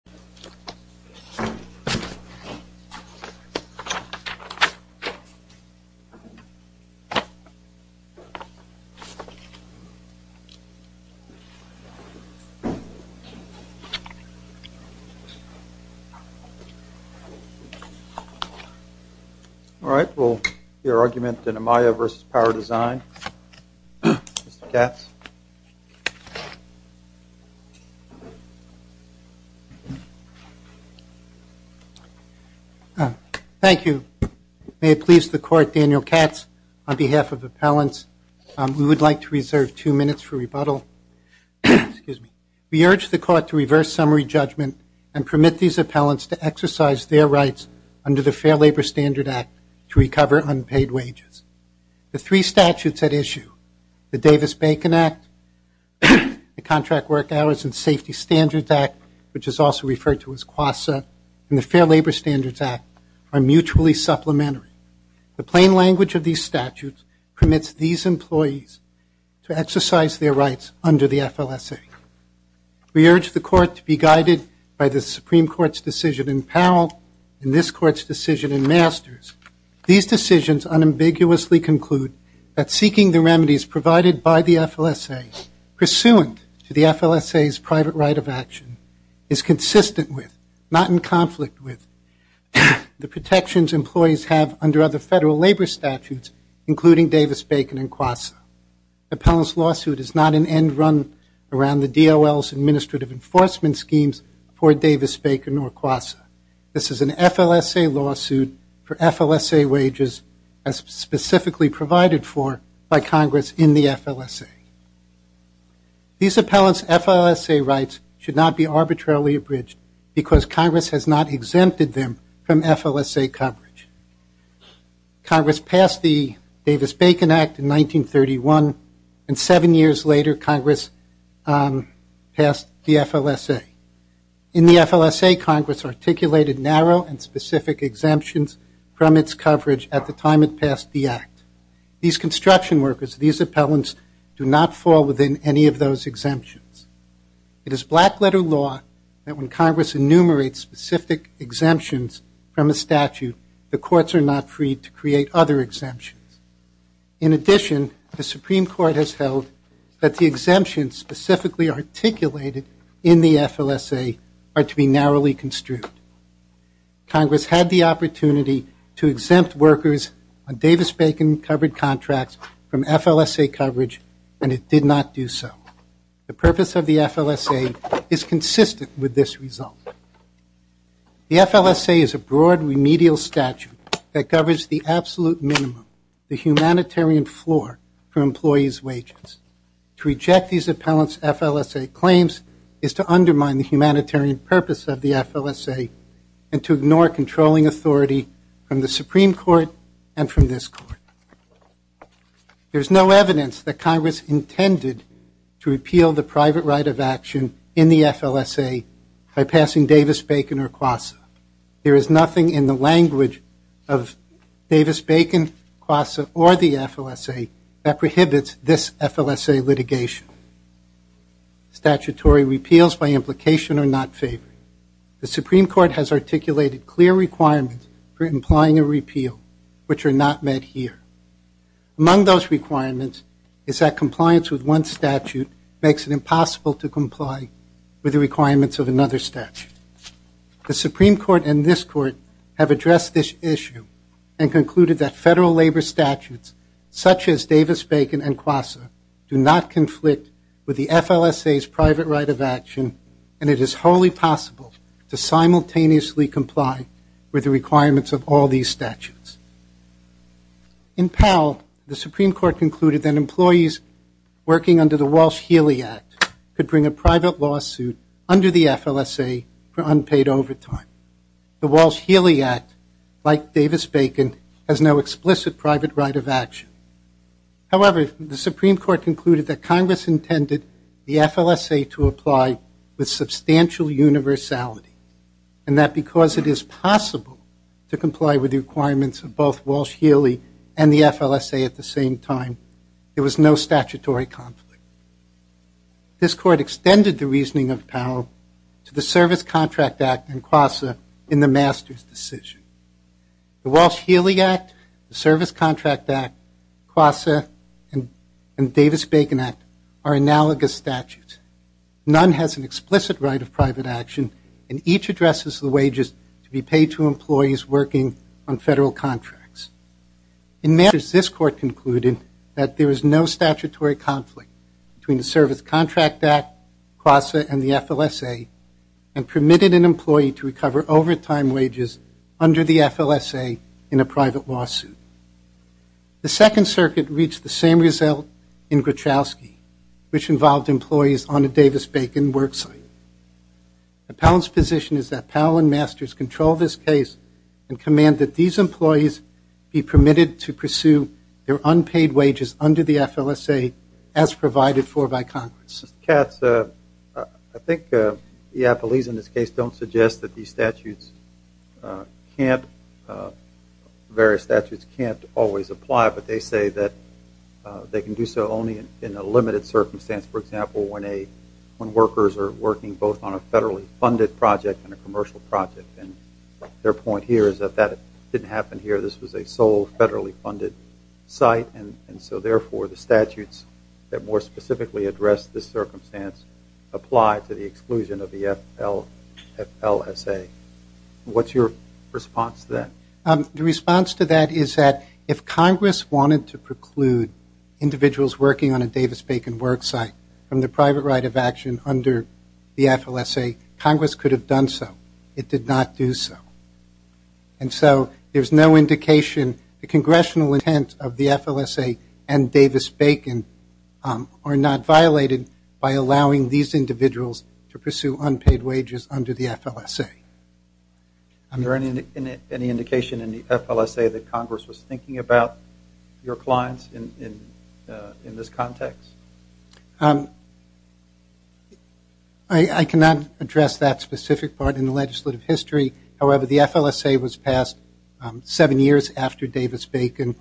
John Teplins presents Thank you. May it please the Court, Daniel Katz, on behalf of appellants, we would like to reserve two minutes for rebuttal. We urge the Court to reverse summary judgment and permit these appellants to exercise their rights under the Fair Labor Standards Act to recover unpaid wages. The three statutes at issue, the Davis-Bacon Act, the Contract Work Hours and Safety Standards Act, which is also referred to as QASA, and the Fair Labor Standards Act are mutually supplementary. The plain language of these statutes permits these employees to exercise their rights under the FLSA. We urge the Court to be guided by the Supreme Court's decision in Parole and this Court's decision in Masters. These decisions unambiguously conclude that seeking the remedies provided by the FLSA, pursuant to the FLSA's private right of action, is consistent with, not in conflict with, the protections employees have under other Federal labor statutes, including Davis-Bacon and QASA. The appellant's lawsuit is not an end run around the DOL's administrative enforcement schemes for Davis-Bacon or QASA. This is an FLSA lawsuit for FLSA wages as specifically provided for by Congress in the FLSA. These appellants' FLSA rights should not be arbitrarily abridged because Congress has not exempted them from FLSA coverage. Congress passed the Davis-Bacon Act in 1931 and seven years later Congress passed the FLSA. In the FLSA, Congress articulated narrow and specific exemptions from its coverage at the time it passed the Act. These construction workers, these appellants, do not fall within any of those exemptions. It is black letter law that when Congress enumerates specific exemptions from a statute, the courts are not free to create other exemptions. In addition, the Supreme Court has held that the exemptions specifically articulated in the FLSA are to be narrowly construed. Congress had the opportunity to exempt workers on Davis-Bacon covered contracts from FLSA coverage and it did not do so. The purpose of the FLSA is consistent with this result. The FLSA is a broad, remedial statute that covers the absolute minimum, the humanitarian floor for employees' wages. To reject these appellants' FLSA claims is to undermine the humanitarian purpose of the FLSA and to ignore controlling authority from the Supreme Court and from this Court. There's no evidence that Congress intended to repeal the private right of action in the language of Davis-Bacon, CLASA, or the FLSA that prohibits this FLSA litigation. Statutory repeals by implication are not favored. The Supreme Court has articulated clear requirements for implying a repeal, which are not met here. Among those requirements is that compliance with one statute makes it impossible to comply with the requirements of another statute. The Supreme Court and this Court have addressed this issue and concluded that federal labor statutes such as Davis-Bacon and CLASA do not conflict with the FLSA's private right of action and it is wholly possible to simultaneously comply with the requirements of all these statutes. In Powell, the Supreme Court concluded that employees working under the Walsh-Healy Act could bring a private lawsuit under the FLSA for unpaid overtime. The Walsh-Healy Act, like Davis-Bacon, has no explicit private right of action. However, the Supreme Court concluded that Congress intended the FLSA to apply with substantial universality and that because it is possible to comply with the requirements of both Walsh-Healy and the CLASA, this Court extended the reasoning of Powell to the Service Contract Act and CLASA in the master's decision. The Walsh-Healy Act, the Service Contract Act, CLASA, and Davis-Bacon Act are analogous statutes. None has an explicit right of private action and each addresses the wages to be paid to employees working on federal contracts. In matters, this Court concluded that there is no statutory conflict between the Service Contract Act, CLASA, and the FLSA and permitted an employee to recover overtime wages under the FLSA in a private lawsuit. The Second Circuit reached the same result in Gruchowski, which involved employees on a Davis-Bacon work site. The Powell's position is that Powell and masters control this case and command that these employees be permitted to pursue their unpaid wages under the FLSA as provided for by Congress. Mr. Katz, I think the affilies in this case don't suggest that these statutes can't, various statutes can't always apply, but they say that they can do so only in a limited circumstance. For example, when workers are working both on a federally funded project and a commercial project, and their point here is that that didn't happen here, this was a sole federally funded site, and so therefore the statutes that more specifically address this circumstance apply to the exclusion of the FLSA. What's your response to that? The response to that is that if Congress wanted to preclude individuals working on a Davis-Bacon work site from the private right of action under the FLSA, Congress could have done so. It did not do so. And so there's no indication, the congressional intent of the FLSA and Davis-Bacon are not violated by allowing these individuals to pursue unpaid wages under the FLSA. Is there any indication in the FLSA that Congress was thinking about your clients in this context? I cannot address that specific part in the legislative history. However, the FLSA was passed seven years after Davis-Bacon.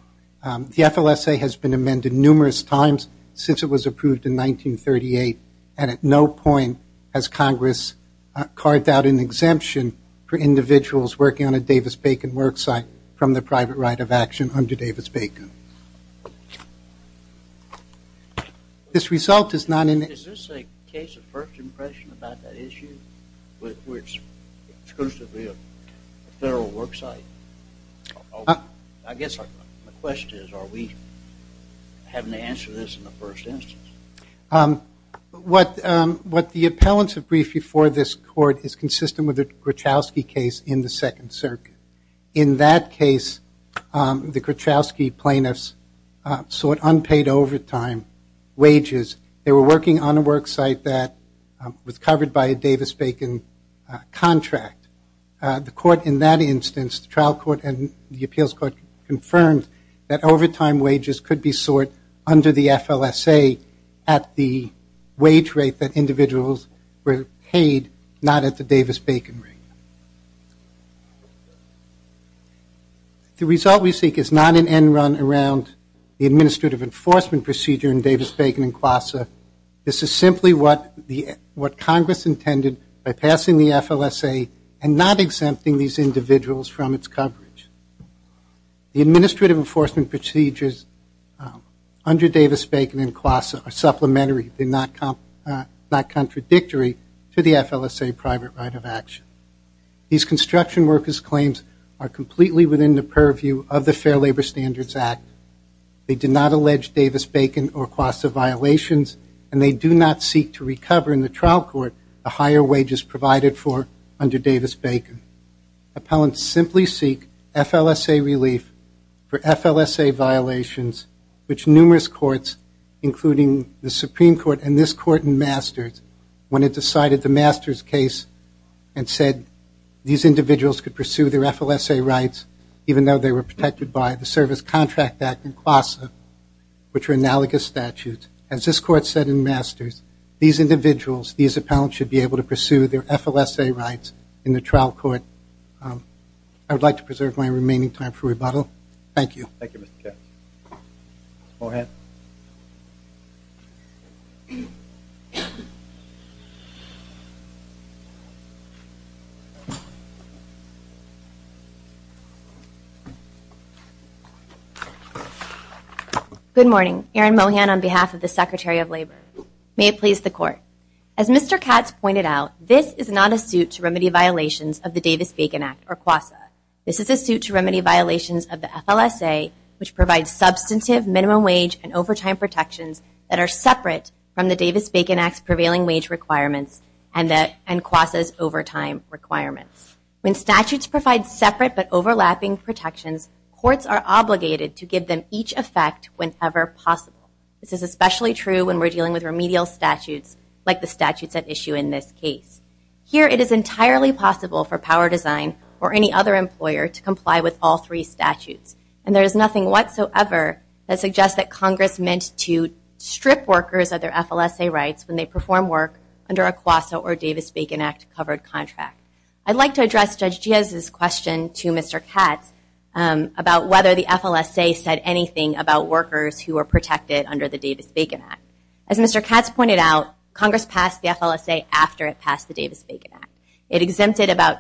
The FLSA has been amended numerous times since it was approved in 1938, and at no point has Congress carved out an exemption for individuals working on a Davis-Bacon work site from the private right of action under Davis-Bacon. Is this a case of first impression about that issue, where it's exclusively a federal work site? I guess the question is, are we having to answer this in the first instance? What the appellants have briefed before this court is consistent with the Gruchowski case in the Second Circuit. In that case, the Gruchowski plaintiffs sought unpaid overtime wages. They were working on a work site that was covered by a Davis-Bacon contract. The court in that instance, the trial court and the appeals court, confirmed that overtime wages could be sought under the FLSA at the wage rate that individuals were paid, not at the Davis-Bacon rate. The result we seek is not an end run around the administrative enforcement procedure in Davis-Bacon and QASA. This is simply what Congress intended by passing the FLSA and not exempting these individuals from its coverage. The administrative enforcement procedures under Davis-Bacon and QASA are supplementary, they're not contradictory to the FLSA private right of action. These construction workers' claims are completely within the purview of the Fair Labor Standards Act. They do not allege Davis-Bacon or QASA violations, and they do not seek to recover in the trial court the higher wages provided for under Davis-Bacon. Appellants simply seek FLSA relief for FLSA violations, which numerous courts, including the Supreme Court and this court in Masters, when it decided the Masters case and said these individuals could pursue their FLSA rights, even though they were protected by the Service Contract Act and QASA, which are analogous statutes. As this court said in Masters, these individuals, these appellants should be able to pursue their FLSA rights in the trial court. I would like to preserve my remaining time for rebuttal. Thank you. Thank you, Mr. Katz. Mohan. Good morning. Erin Mohan on behalf of the Secretary of Labor. May it please the court. As Mr. Katz pointed out, this is not a suit to remedy violations of the Davis-Bacon Act or QASA. This is a suit to remedy violations of the FLSA, which provides substantive minimum wage and overtime protections that are separate from the Davis-Bacon Act's prevailing wage requirements and QASA's overtime requirements. When statutes provide separate but overlapping protections, courts are obligated to give them each effect whenever possible. This is especially true when we're dealing with remedial statutes like the statutes at issue in this case. Here, it is entirely possible for Power Design or any other employer to comply with all three statutes. And there is nothing whatsoever that suggests that Congress meant to strip workers of their FLSA rights when they perform work under a QASA or Davis-Bacon Act covered contract. I'd like to address Judge Giaz's question to Mr. Katz about whether the FLSA said anything about workers who were protected under the Davis-Bacon Act. As Mr. Katz pointed out, Congress passed the FLSA after it passed the Davis-Bacon Act. It exempted about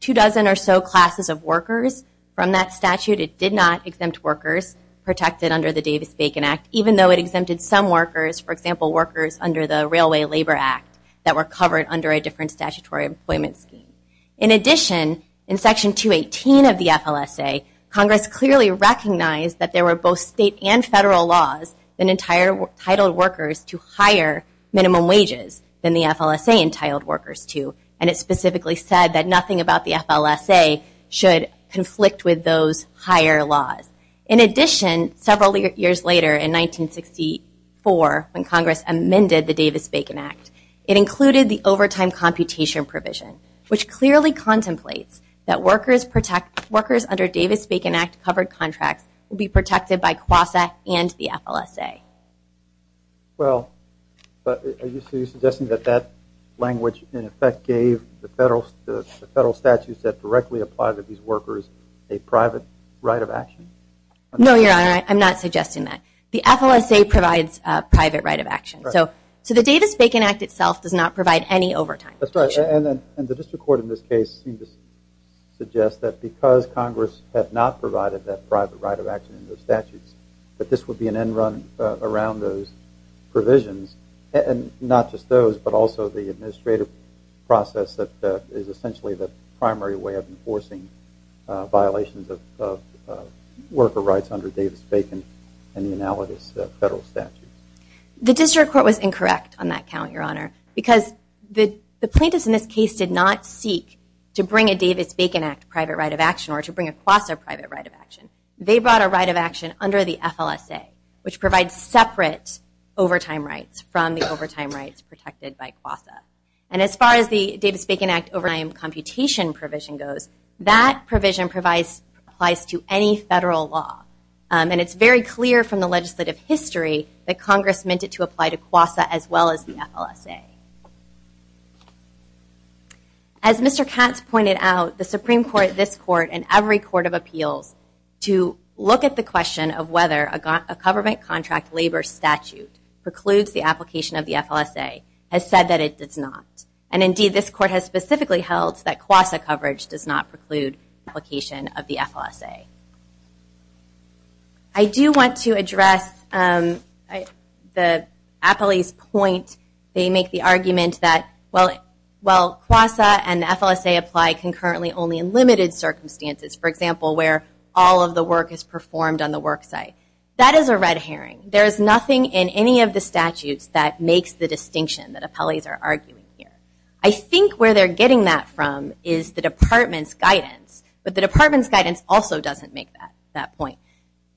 two dozen or so classes of workers from that statute. It did not exempt workers protected under the Davis-Bacon Act, even though it exempted some workers, for example, workers under the Railway Labor Act that were covered under a different statutory employment scheme. In addition, in Section 218 of the FLSA, Congress clearly recognized that there were both state and federal laws that entitled workers to higher minimum wages than the FLSA entitled workers to. And it specifically said that nothing about the FLSA should conflict with those higher laws. In addition, several years later, in 1964, when Congress amended the Davis-Bacon Act, it included the overtime computation provision, which clearly contemplates that workers under Davis-Bacon Act will be protected by QASA and the FLSA. Well, are you suggesting that that language, in effect, gave the federal statutes that directly apply to these workers a private right of action? No, Your Honor, I'm not suggesting that. The FLSA provides a private right of action. So the Davis-Bacon Act itself does not provide any overtime. That's right. And the district court in this case seemed to suggest that because Congress had not provided that private right of action in those statutes, that this would be an end run around those provisions. And not just those, but also the administrative process that is essentially the primary way of enforcing violations of worker rights under Davis-Bacon and the analogous federal statutes. The district court was incorrect on that count, Your Honor, because the plaintiffs in this case did not seek to bring a Davis-Bacon Act private right of action or to bring a QASA private right of action. They brought a right of action under the FLSA, which provides separate overtime rights from the overtime rights protected by QASA. And as far as the Davis-Bacon Act overtime computation provision goes, that provision applies to any federal law. And it's very clear from the legislative history that Congress meant it to apply to QASA as well as the FLSA. As Mr. Katz pointed out, the Supreme Court, this court, and every court of appeals to look at the question of whether a government contract labor statute precludes the application of the FLSA has said that it does not. And indeed, this court has specifically held that QASA coverage does not preclude application of the FLSA. I do want to address the appellee's point. They make the argument that while QASA and the FLSA apply concurrently only in limited circumstances, for example, where all of the work is performed on the work site, that is a red herring. There is nothing in any of the statutes that makes the distinction that appellees are arguing here. I think where they're getting that from is the department's guidance. But the department's guidance also doesn't make that point.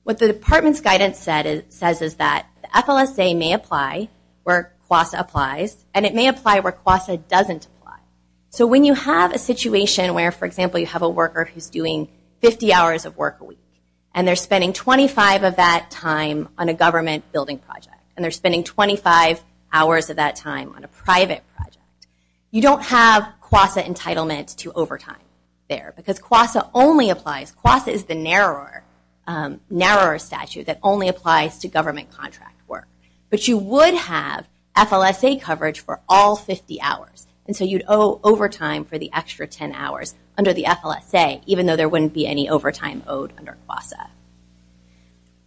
What the department's guidance says is that the FLSA may apply where QASA applies, and it may apply where QASA doesn't apply. So when you have a situation where, for example, you have a worker who's doing 50 hours of work a week, and they're spending 25 of that time on a government building project, and they're spending 25 hours of that time on a private project, you don't have QASA entitlement to overtime there. Because QASA only applies, QASA is the narrower statute that only applies to government contract work. But you would have FLSA coverage for all 50 hours, and so you'd owe overtime for the extra 10 hours under the FLSA, even though there wouldn't be any overtime owed under QASA.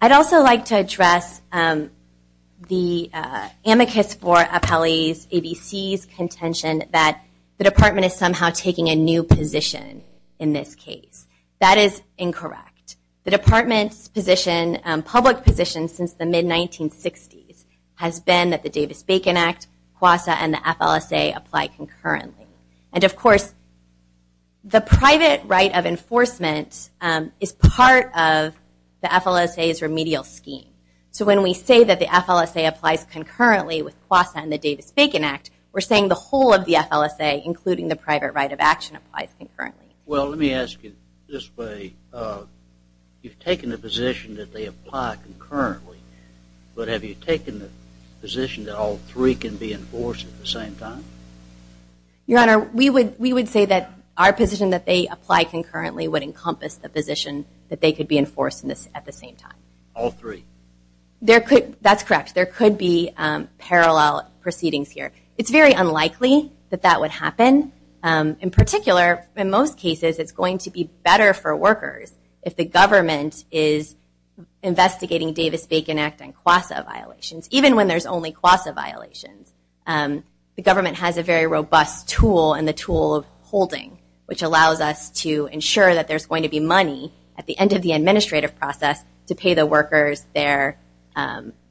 I'd also like to address the amicus for appellees, ABC's contention that the department is somehow taking a new position in this case. That is incorrect. The department's public position since the mid-1960s has been that the Davis-Bacon Act, QASA, and the FLSA apply concurrently. And of course, the private right of enforcement is part of the FLSA's remedial scheme. So when we say that the FLSA applies concurrently with QASA and the Davis-Bacon Act, we're saying the whole of the FLSA, including the private right of action, applies concurrently. Well, let me ask you this way. You've taken the position that they apply concurrently, but have you taken the position that all three can be enforced at the same time? Your Honor, we would say that our position that they apply concurrently would encompass the position that they could be enforced at the same time. All three? That's correct. There could be parallel proceedings here. It's very unlikely that that would happen. In particular, in most cases, it's going to be better for workers if the government is investigating Davis-Bacon Act and QASA violations, even when there's only QASA violations. The government has a very robust tool in the tool of holding, which allows us to ensure that there's going to be money at the end of the administrative process to pay the workers their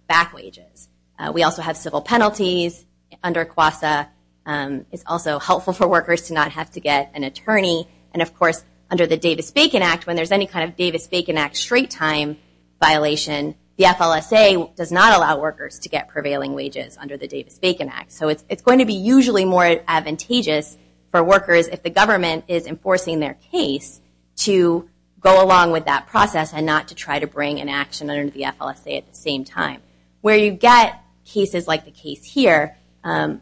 back wages. We also have civil penalties under QASA. It's also helpful for workers to not have to get an attorney. Of course, under the Davis-Bacon Act, when there's any kind of Davis-Bacon Act straight time violation, the FLSA does not allow workers to get prevailing wages under the Davis-Bacon Act. It's going to be usually more advantageous for workers if the government is enforcing their case to go along with that process and not to try to bring an action under the FLSA at the same time. Where you get cases like the case here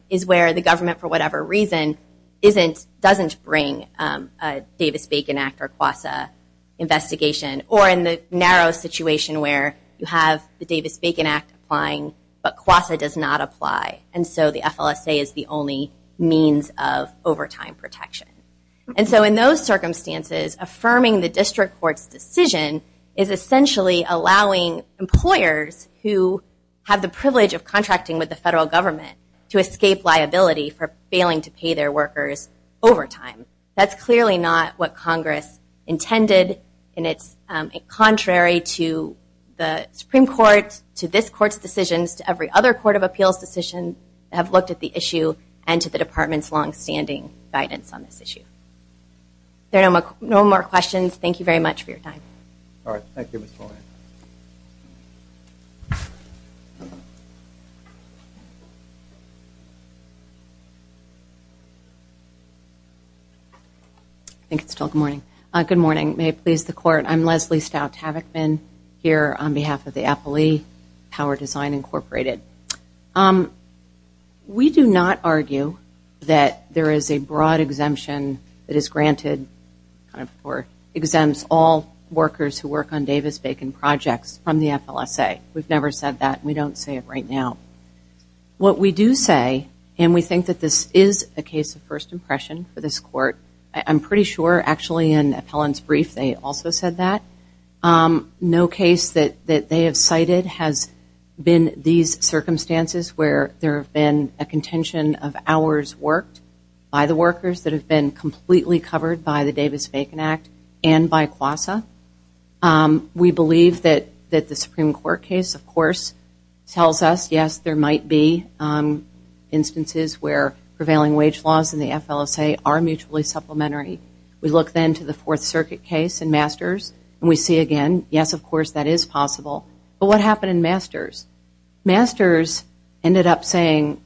is where the government, for whatever reason, doesn't bring a Davis-Bacon Act or QASA investigation. Or in the narrow situation where you have the Davis-Bacon Act applying, but QASA does not apply, and so the FLSA is the only means of overtime protection. In those circumstances, affirming the district court's decision is essentially allowing employers who have the privilege of contracting with the federal government to escape liability for failing to pay their workers overtime. That's clearly not what Congress intended, and it's contrary to the Supreme Court, to this Court's decisions, to every other Court of Appeals decision that have looked at the issue, and to the Department's longstanding guidance on this issue. If there are no more questions, thank you very much for your time. All right, thank you, Ms. Pollack. I think it's still good morning. Good morning. May it please the Court, I'm Leslie Stout-Tavichman here on behalf of the Appley Power Design Incorporated. We do not argue that there is a broad exemption that is granted or exempts all workers who work on Davis-Bacon projects from the FLSA. We've never said that, and we don't say it right now. What we do say, and we think that this is a case of first impression for this Court, I'm pretty sure actually in Appellant's brief they also said that. No case that they have cited has been these circumstances where there have been a contention of hours worked by the workers that have been completely covered by the Davis-Bacon Act and by QASA. We believe that the Supreme Court case, of course, tells us, yes, there might be instances where prevailing wage laws in the FLSA are mutually supplementary. We look then to the Fourth Circuit case in Masters, and we see again, yes, of course, that is possible. But what happened in Masters? Masters ended up saying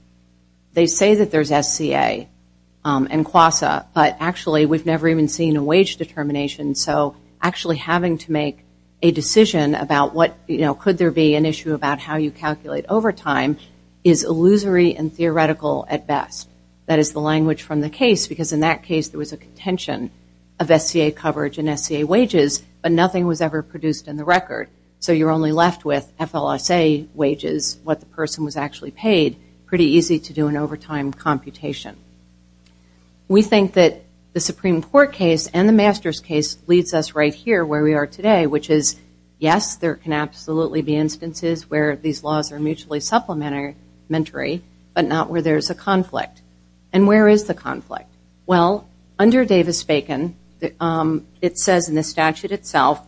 they say that there's SCA and QASA, but actually we've never even seen a wage determination. So actually having to make a decision about what, you know, could there be an issue about how you calculate overtime is illusory and theoretical at best. That is the language from the case, because in that case there was a contention of SCA coverage and SCA wages, but nothing was ever produced in the record. So you're only left with FLSA wages, what the person was actually paid, pretty easy to do an overtime computation. We think that the Supreme Court case and the Masters case leads us right here where we are today, which is, yes, there can absolutely be instances where these laws are mutually supplementary, but not where there's a conflict. And where is the conflict? Well, under Davis-Bacon, it says in the statute itself,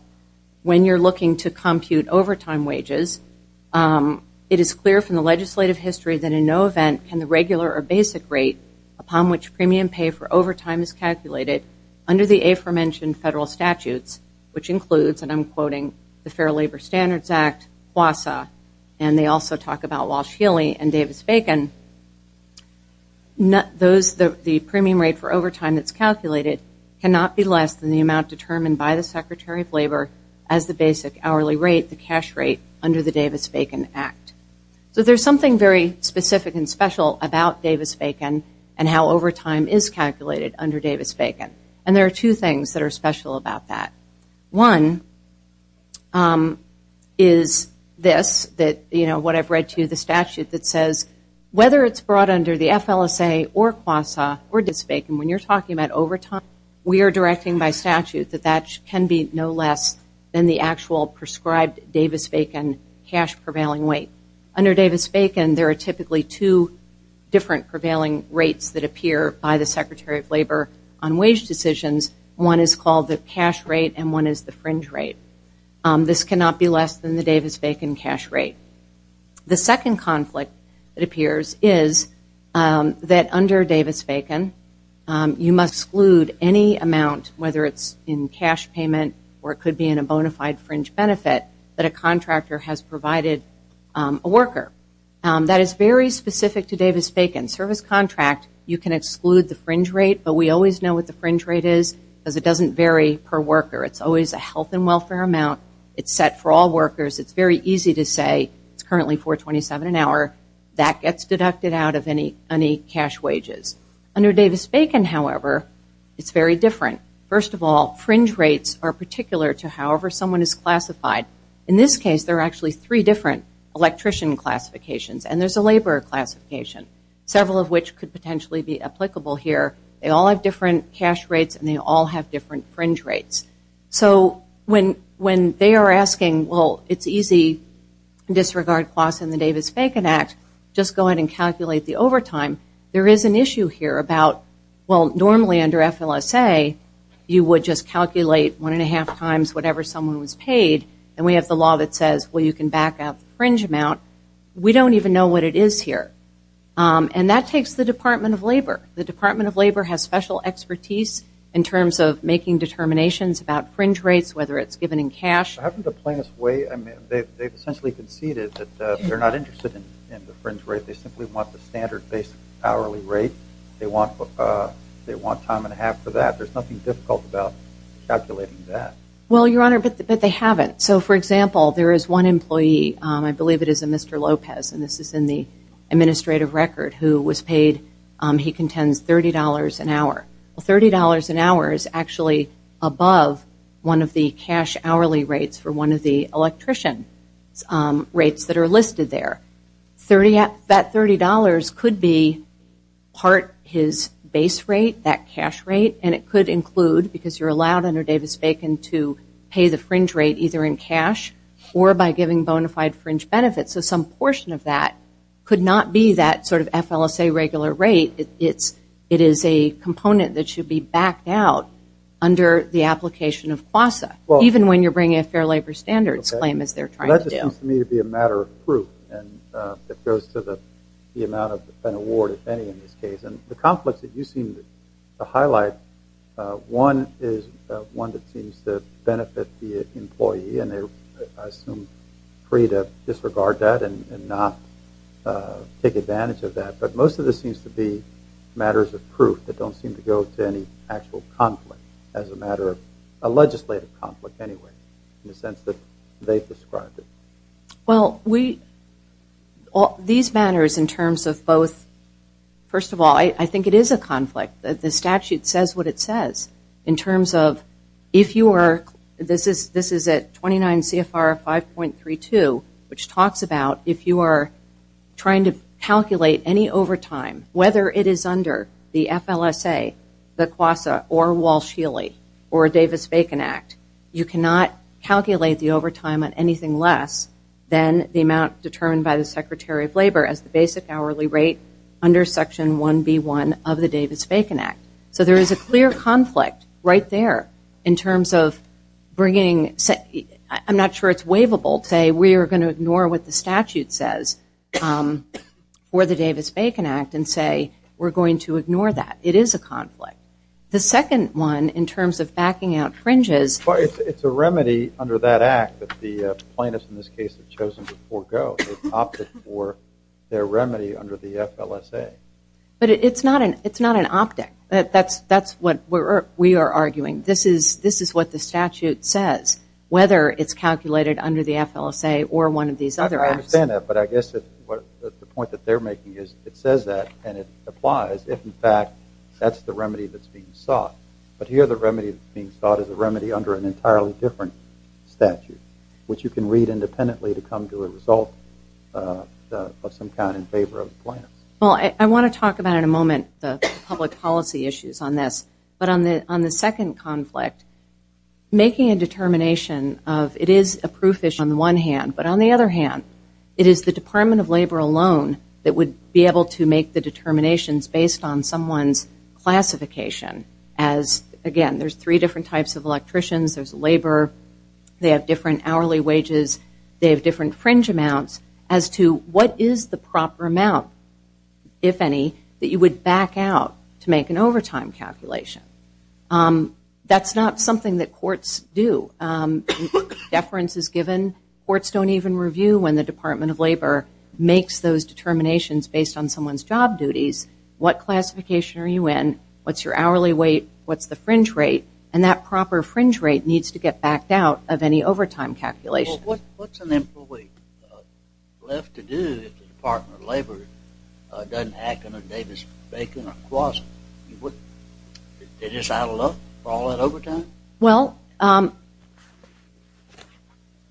when you're looking to compute overtime wages, it is clear from the legislative history that in no event can the regular or basic rate upon which premium pay for overtime is calculated under the aforementioned federal statutes, which includes, and I'm quoting, the Fair Labor Standards Act, WASA, and they also talk about Walsh-Healy and Davis-Bacon, the premium rate for overtime that's calculated cannot be less than the amount determined by the Secretary of Labor as the basic hourly rate, the cash rate, under the Davis-Bacon Act. So there's something very specific and special about Davis-Bacon and how overtime is calculated under Davis-Bacon. And there are two things that are special about that. One is this, that, you know, what I've read to you, the statute that says whether it's brought under the FLSA or WASA or Davis-Bacon, when you're talking about overtime, we are directing by statute that that can be no less than the actual prescribed Davis-Bacon cash prevailing weight. Under Davis-Bacon, there are typically two different prevailing rates that appear by the Secretary of Labor on wage decisions. One is called the cash rate and one is the fringe rate. This cannot be less than the Davis-Bacon cash rate. The second conflict that appears is that under Davis-Bacon, you must exclude any amount, whether it's in cash payment or it could be in a bona fide fringe benefit, that a contractor has provided a worker. That is very specific to Davis-Bacon. Service contract, you can exclude the fringe rate, but we always know what the fringe rate is because it doesn't vary per worker. It's always a health and welfare amount. It's set for all workers. It's very easy to say it's currently $4.27 an hour. That gets deducted out of any cash wages. Under Davis-Bacon, however, it's very different. First of all, fringe rates are particular to however someone is classified. In this case, there are actually three different electrician classifications and there's a laborer classification, several of which could potentially be applicable here. They all have different cash rates and they all have different fringe rates. So when they are asking, well, it's easy to disregard costs in the Davis-Bacon Act, just go ahead and calculate the overtime. There is an issue here about, well, normally under FLSA, you would just calculate one and a half times whatever someone was paid and we have the law that says, well, you can back out the fringe amount. We don't even know what it is here. And that takes the Department of Labor. The Department of Labor has special expertise in terms of making determinations about fringe rates, whether it's given in cash. I haven't the plainest way. I mean, they've essentially conceded that they're not interested in the fringe rate. They simply want the standard base hourly rate. They want time and a half for that. There's nothing difficult about calculating that. Well, Your Honor, but they haven't. So, for example, there is one employee, I believe it is a Mr. Lopez, and this is in the administrative record, who was paid, he contends, $30 an hour. Well, $30 an hour is actually above one of the cash hourly rates for one of the electrician rates that are listed there. That $30 could be part his base rate, that cash rate, and it could include, because you're allowed under Davis-Bacon to pay the fringe rate either in cash or by giving bona fide fringe benefits. So some portion of that could not be that sort of FLSA regular rate. It is a component that should be backed out under the application of QASA, even when you're bringing a fair labor standards claim, as they're trying to do. That just seems to me to be a matter of proof, and it goes to the amount of an award, if any, in this case. And the conflicts that you seem to highlight, one is one that seems to benefit the employee, and they're, I assume, free to disregard that and not take advantage of that. But most of this seems to be matters of proof that don't seem to go to any actual conflict, as a matter of a legislative conflict anyway, in the sense that they've described it. Well, these matters in terms of both, first of all, I think it is a conflict. The statute says what it says in terms of if you are, this is at 29 CFR 5.32, which talks about if you are trying to calculate any overtime, whether it is under the FLSA, the QASA, or Walsh-Healy, or Davis-Bacon Act, you cannot calculate the overtime on anything less than the amount determined by the Secretary of Labor as the basic hourly rate under Section 1B1 of the Davis-Bacon Act. So there is a clear conflict right there in terms of bringing, I'm not sure it's waivable to say we are going to ignore what the statute says for the Davis-Bacon Act and say we're going to ignore that. It is a conflict. The second one in terms of backing out fringes. It's a remedy under that act that the plaintiffs in this case have chosen to forego. They've opted for their remedy under the FLSA. But it's not an optic. That's what we are arguing. This is what the statute says, whether it's calculated under the FLSA or one of these other acts. I understand that, but I guess the point that they're making is it says that and it applies if, in fact, that's the remedy that's being sought. But here the remedy that's being sought is a remedy under an entirely different statute, which you can read independently to come to a result of some kind in favor of the plaintiffs. Well, I want to talk about in a moment the public policy issues on this. But on the second conflict, making a determination of it is a proof issue on the one hand, but on the other hand, it is the Department of Labor alone that would be able to make the determinations based on someone's classification as, again, there's three different types of electricians. There's labor. They have different hourly wages. They have different fringe amounts as to what is the proper amount, if any, that you would back out to make an overtime calculation. That's not something that courts do. Deference is given. Courts don't even review when the Department of Labor makes those determinations based on someone's job duties. What classification are you in? What's your hourly rate? What's the fringe rate? And that proper fringe rate needs to get backed out of any overtime calculations. Well, what's an employee left to do if the Department of Labor doesn't hack into Davis Bacon or Kwasi? They're just addled up for all that overtime? Well,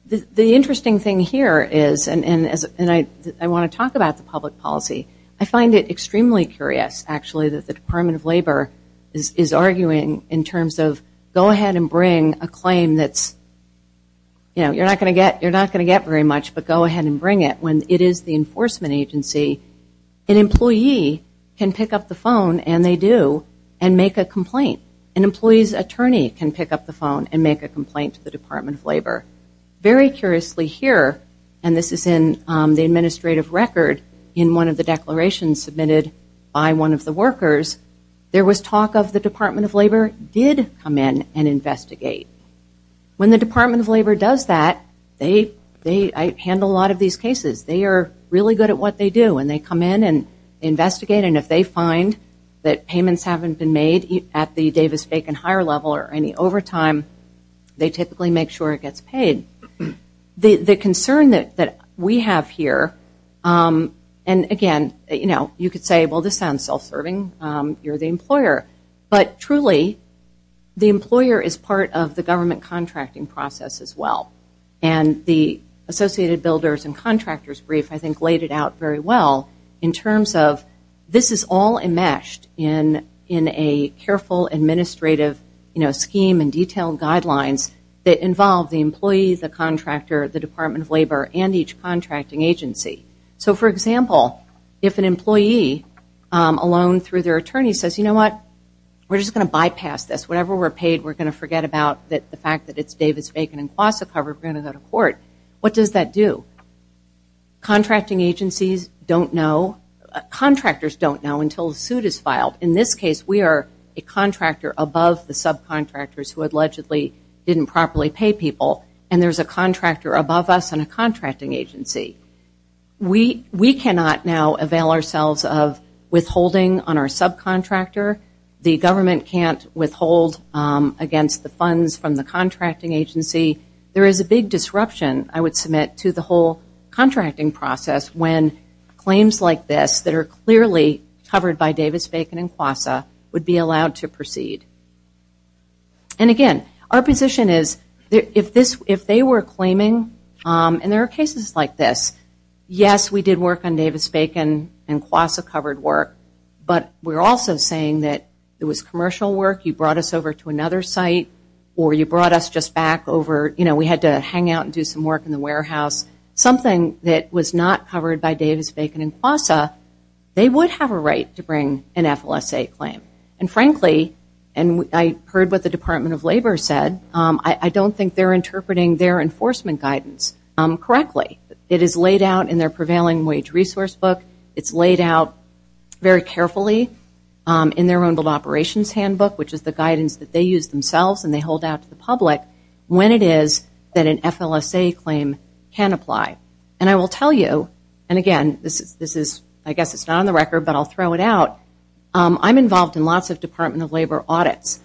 the interesting thing here is, and I want to talk about the public policy, I find it extremely curious, actually, that the Department of Labor is arguing in terms of go ahead and bring a claim that's, you know, you're not going to get very much, but go ahead and bring it when it is the enforcement agency. An employee can pick up the phone, and they do, and make a complaint. An employee's attorney can pick up the phone and make a complaint to the Department of Labor. Very curiously here, and this is in the administrative record, in one of the declarations submitted by one of the workers, there was talk of the Department of Labor did come in and investigate. When the Department of Labor does that, they handle a lot of these cases. They are really good at what they do, and they come in and investigate, and if they find that payments haven't been made at the Davis Bacon hire level or any overtime, they typically make sure it gets paid. The concern that we have here, and again, you know, you could say, well, this sounds self-serving. You're the employer. But truly, the employer is part of the government contracting process as well, and the Associated Builders and Contractors Brief, I think, laid it out very well in terms of this is all enmeshed in a careful administrative scheme and detailed guidelines that involve the employee, the contractor, the Department of Labor, and each contracting agency. So, for example, if an employee, alone through their attorney, says, you know what, we're just going to bypass this. Whatever we're paid, we're going to forget about the fact that it's Davis Bacon and Quassa covered. We're going to go to court. What does that do? Contracting agencies don't know, contractors don't know until a suit is filed. In this case, we are a contractor above the subcontractors who allegedly didn't properly pay people, and there's a contractor above us and a contracting agency. We cannot now avail ourselves of withholding on our subcontractor. The government can't withhold against the funds from the contracting agency. There is a big disruption, I would submit, to the whole contracting process when claims like this that are clearly covered by Davis Bacon and Quassa would be allowed to proceed. And again, our position is if they were claiming, and there are cases like this, yes, we did work on Davis Bacon and Quassa covered work, but we're also saying that it was commercial work, you brought us over to another site, or you brought us just back over, you know, we had to hang out and do some work in the warehouse. Something that was not covered by Davis Bacon and Quassa, they would have a right to bring an FLSA claim. And frankly, and I heard what the Department of Labor said, I don't think they're interpreting their enforcement guidance correctly. It is laid out in their prevailing wage resource book. It's laid out very carefully in their own operations handbook, which is the guidance that they use themselves and they hold out to the public, when it is that an FLSA claim can apply. And I will tell you, and again, this is, I guess it's not on the record, but I'll throw it out. I'm involved in lots of Department of Labor audits.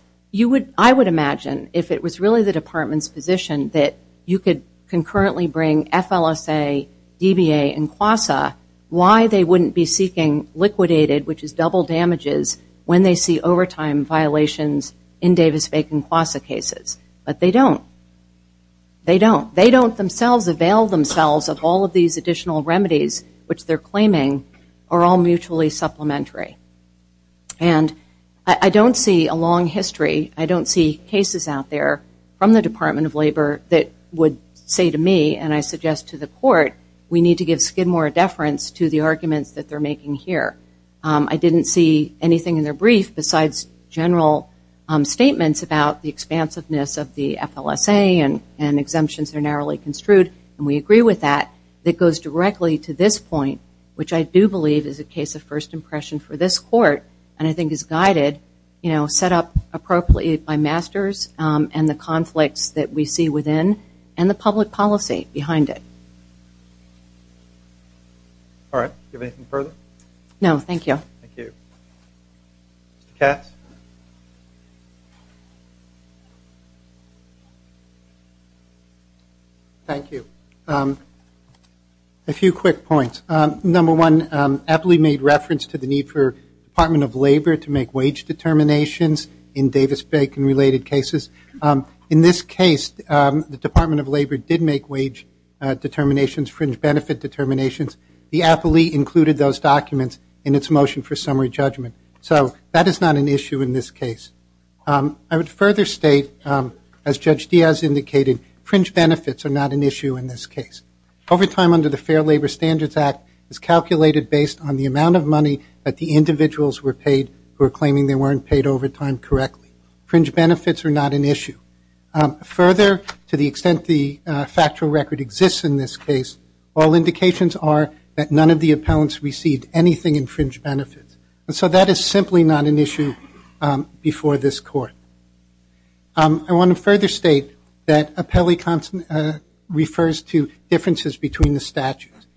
I would imagine if it was really the department's position that you could concurrently bring FLSA, DBA, and Quassa, why they wouldn't be seeking liquidated, which is double damages, when they see overtime violations in Davis Bacon and Quassa cases. But they don't. They don't. They don't themselves avail themselves of all of these additional remedies, which they're claiming are all mutually supplementary. And I don't see a long history, I don't see cases out there from the Department of Labor that would say to me, and I suggest to the court, we need to give Skidmore a deference to the arguments that they're making here. I didn't see anything in their brief besides general statements about the expansiveness of the FLSA and exemptions that are narrowly construed. And we agree with that. It goes directly to this point, which I do believe is a case of first impression for this court, and I think is guided, you know, set up appropriately by masters and the conflicts that we see within and the public policy behind it. All right. Do you have anything further? No, thank you. Thank you. Mr. Katz? Thank you. A few quick points. Number one, Eppley made reference to the need for the Department of Labor to make wage determinations in Davis-Bacon related cases. In this case, the Department of Labor did make wage determinations, fringe benefit determinations. The appellee included those documents in its motion for summary judgment. So that is not an issue in this case. I would further state, as Judge Diaz indicated, fringe benefits are not an issue in this case. Overtime under the Fair Labor Standards Act is calculated based on the amount of money that the individuals were paid who are claiming they weren't paid overtime correctly. Fringe benefits are not an issue. Further, to the extent the factual record exists in this case, all indications are that none of the appellants received anything in fringe benefits. And so that is simply not an issue before this court. I want to further state that Eppley refers to differences between the statutes.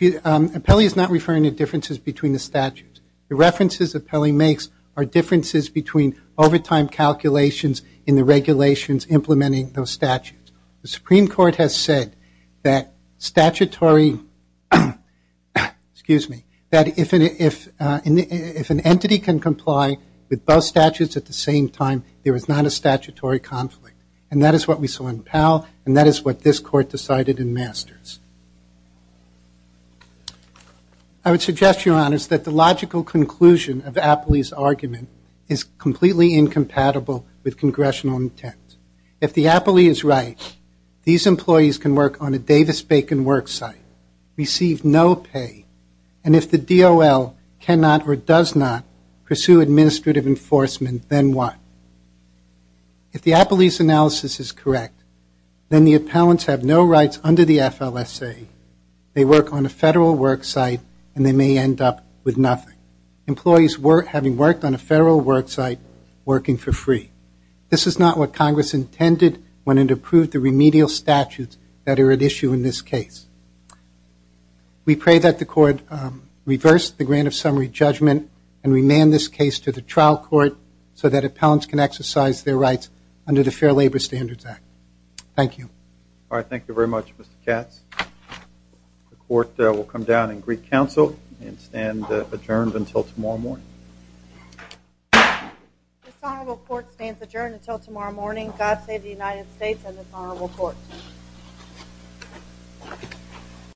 Eppley is not referring to differences between the statutes. The references Eppley makes are differences between overtime calculations and the regulations implementing those statutes. The Supreme Court has said that if an entity can comply with both statutes at the same time, there is not a statutory conflict. And that is what we saw in Powell, and that is what this court decided in Masters. I would suggest, Your Honors, that the logical conclusion of Eppley's argument is completely incompatible with congressional intent. If the appellee is right, these employees can work on a Davis-Bacon worksite, receive no pay, and if the DOL cannot or does not pursue administrative enforcement, then what? If the appellee's analysis is correct, then the appellants have no rights under the FLSA, they work on a federal worksite, and they may end up with nothing, employees having worked on a federal worksite working for free. This is not what Congress intended when it approved the remedial statutes that are at issue in this case. We pray that the court reverse the grant of summary judgment and remand this case to the trial court so that appellants can exercise their rights under the Fair Labor Standards Act. Thank you. All right, thank you very much, Mr. Katz. The court will come down in Greek Council and stand adjourned until tomorrow morning. This honorable court stands adjourned until tomorrow morning. God save the United States and this honorable court.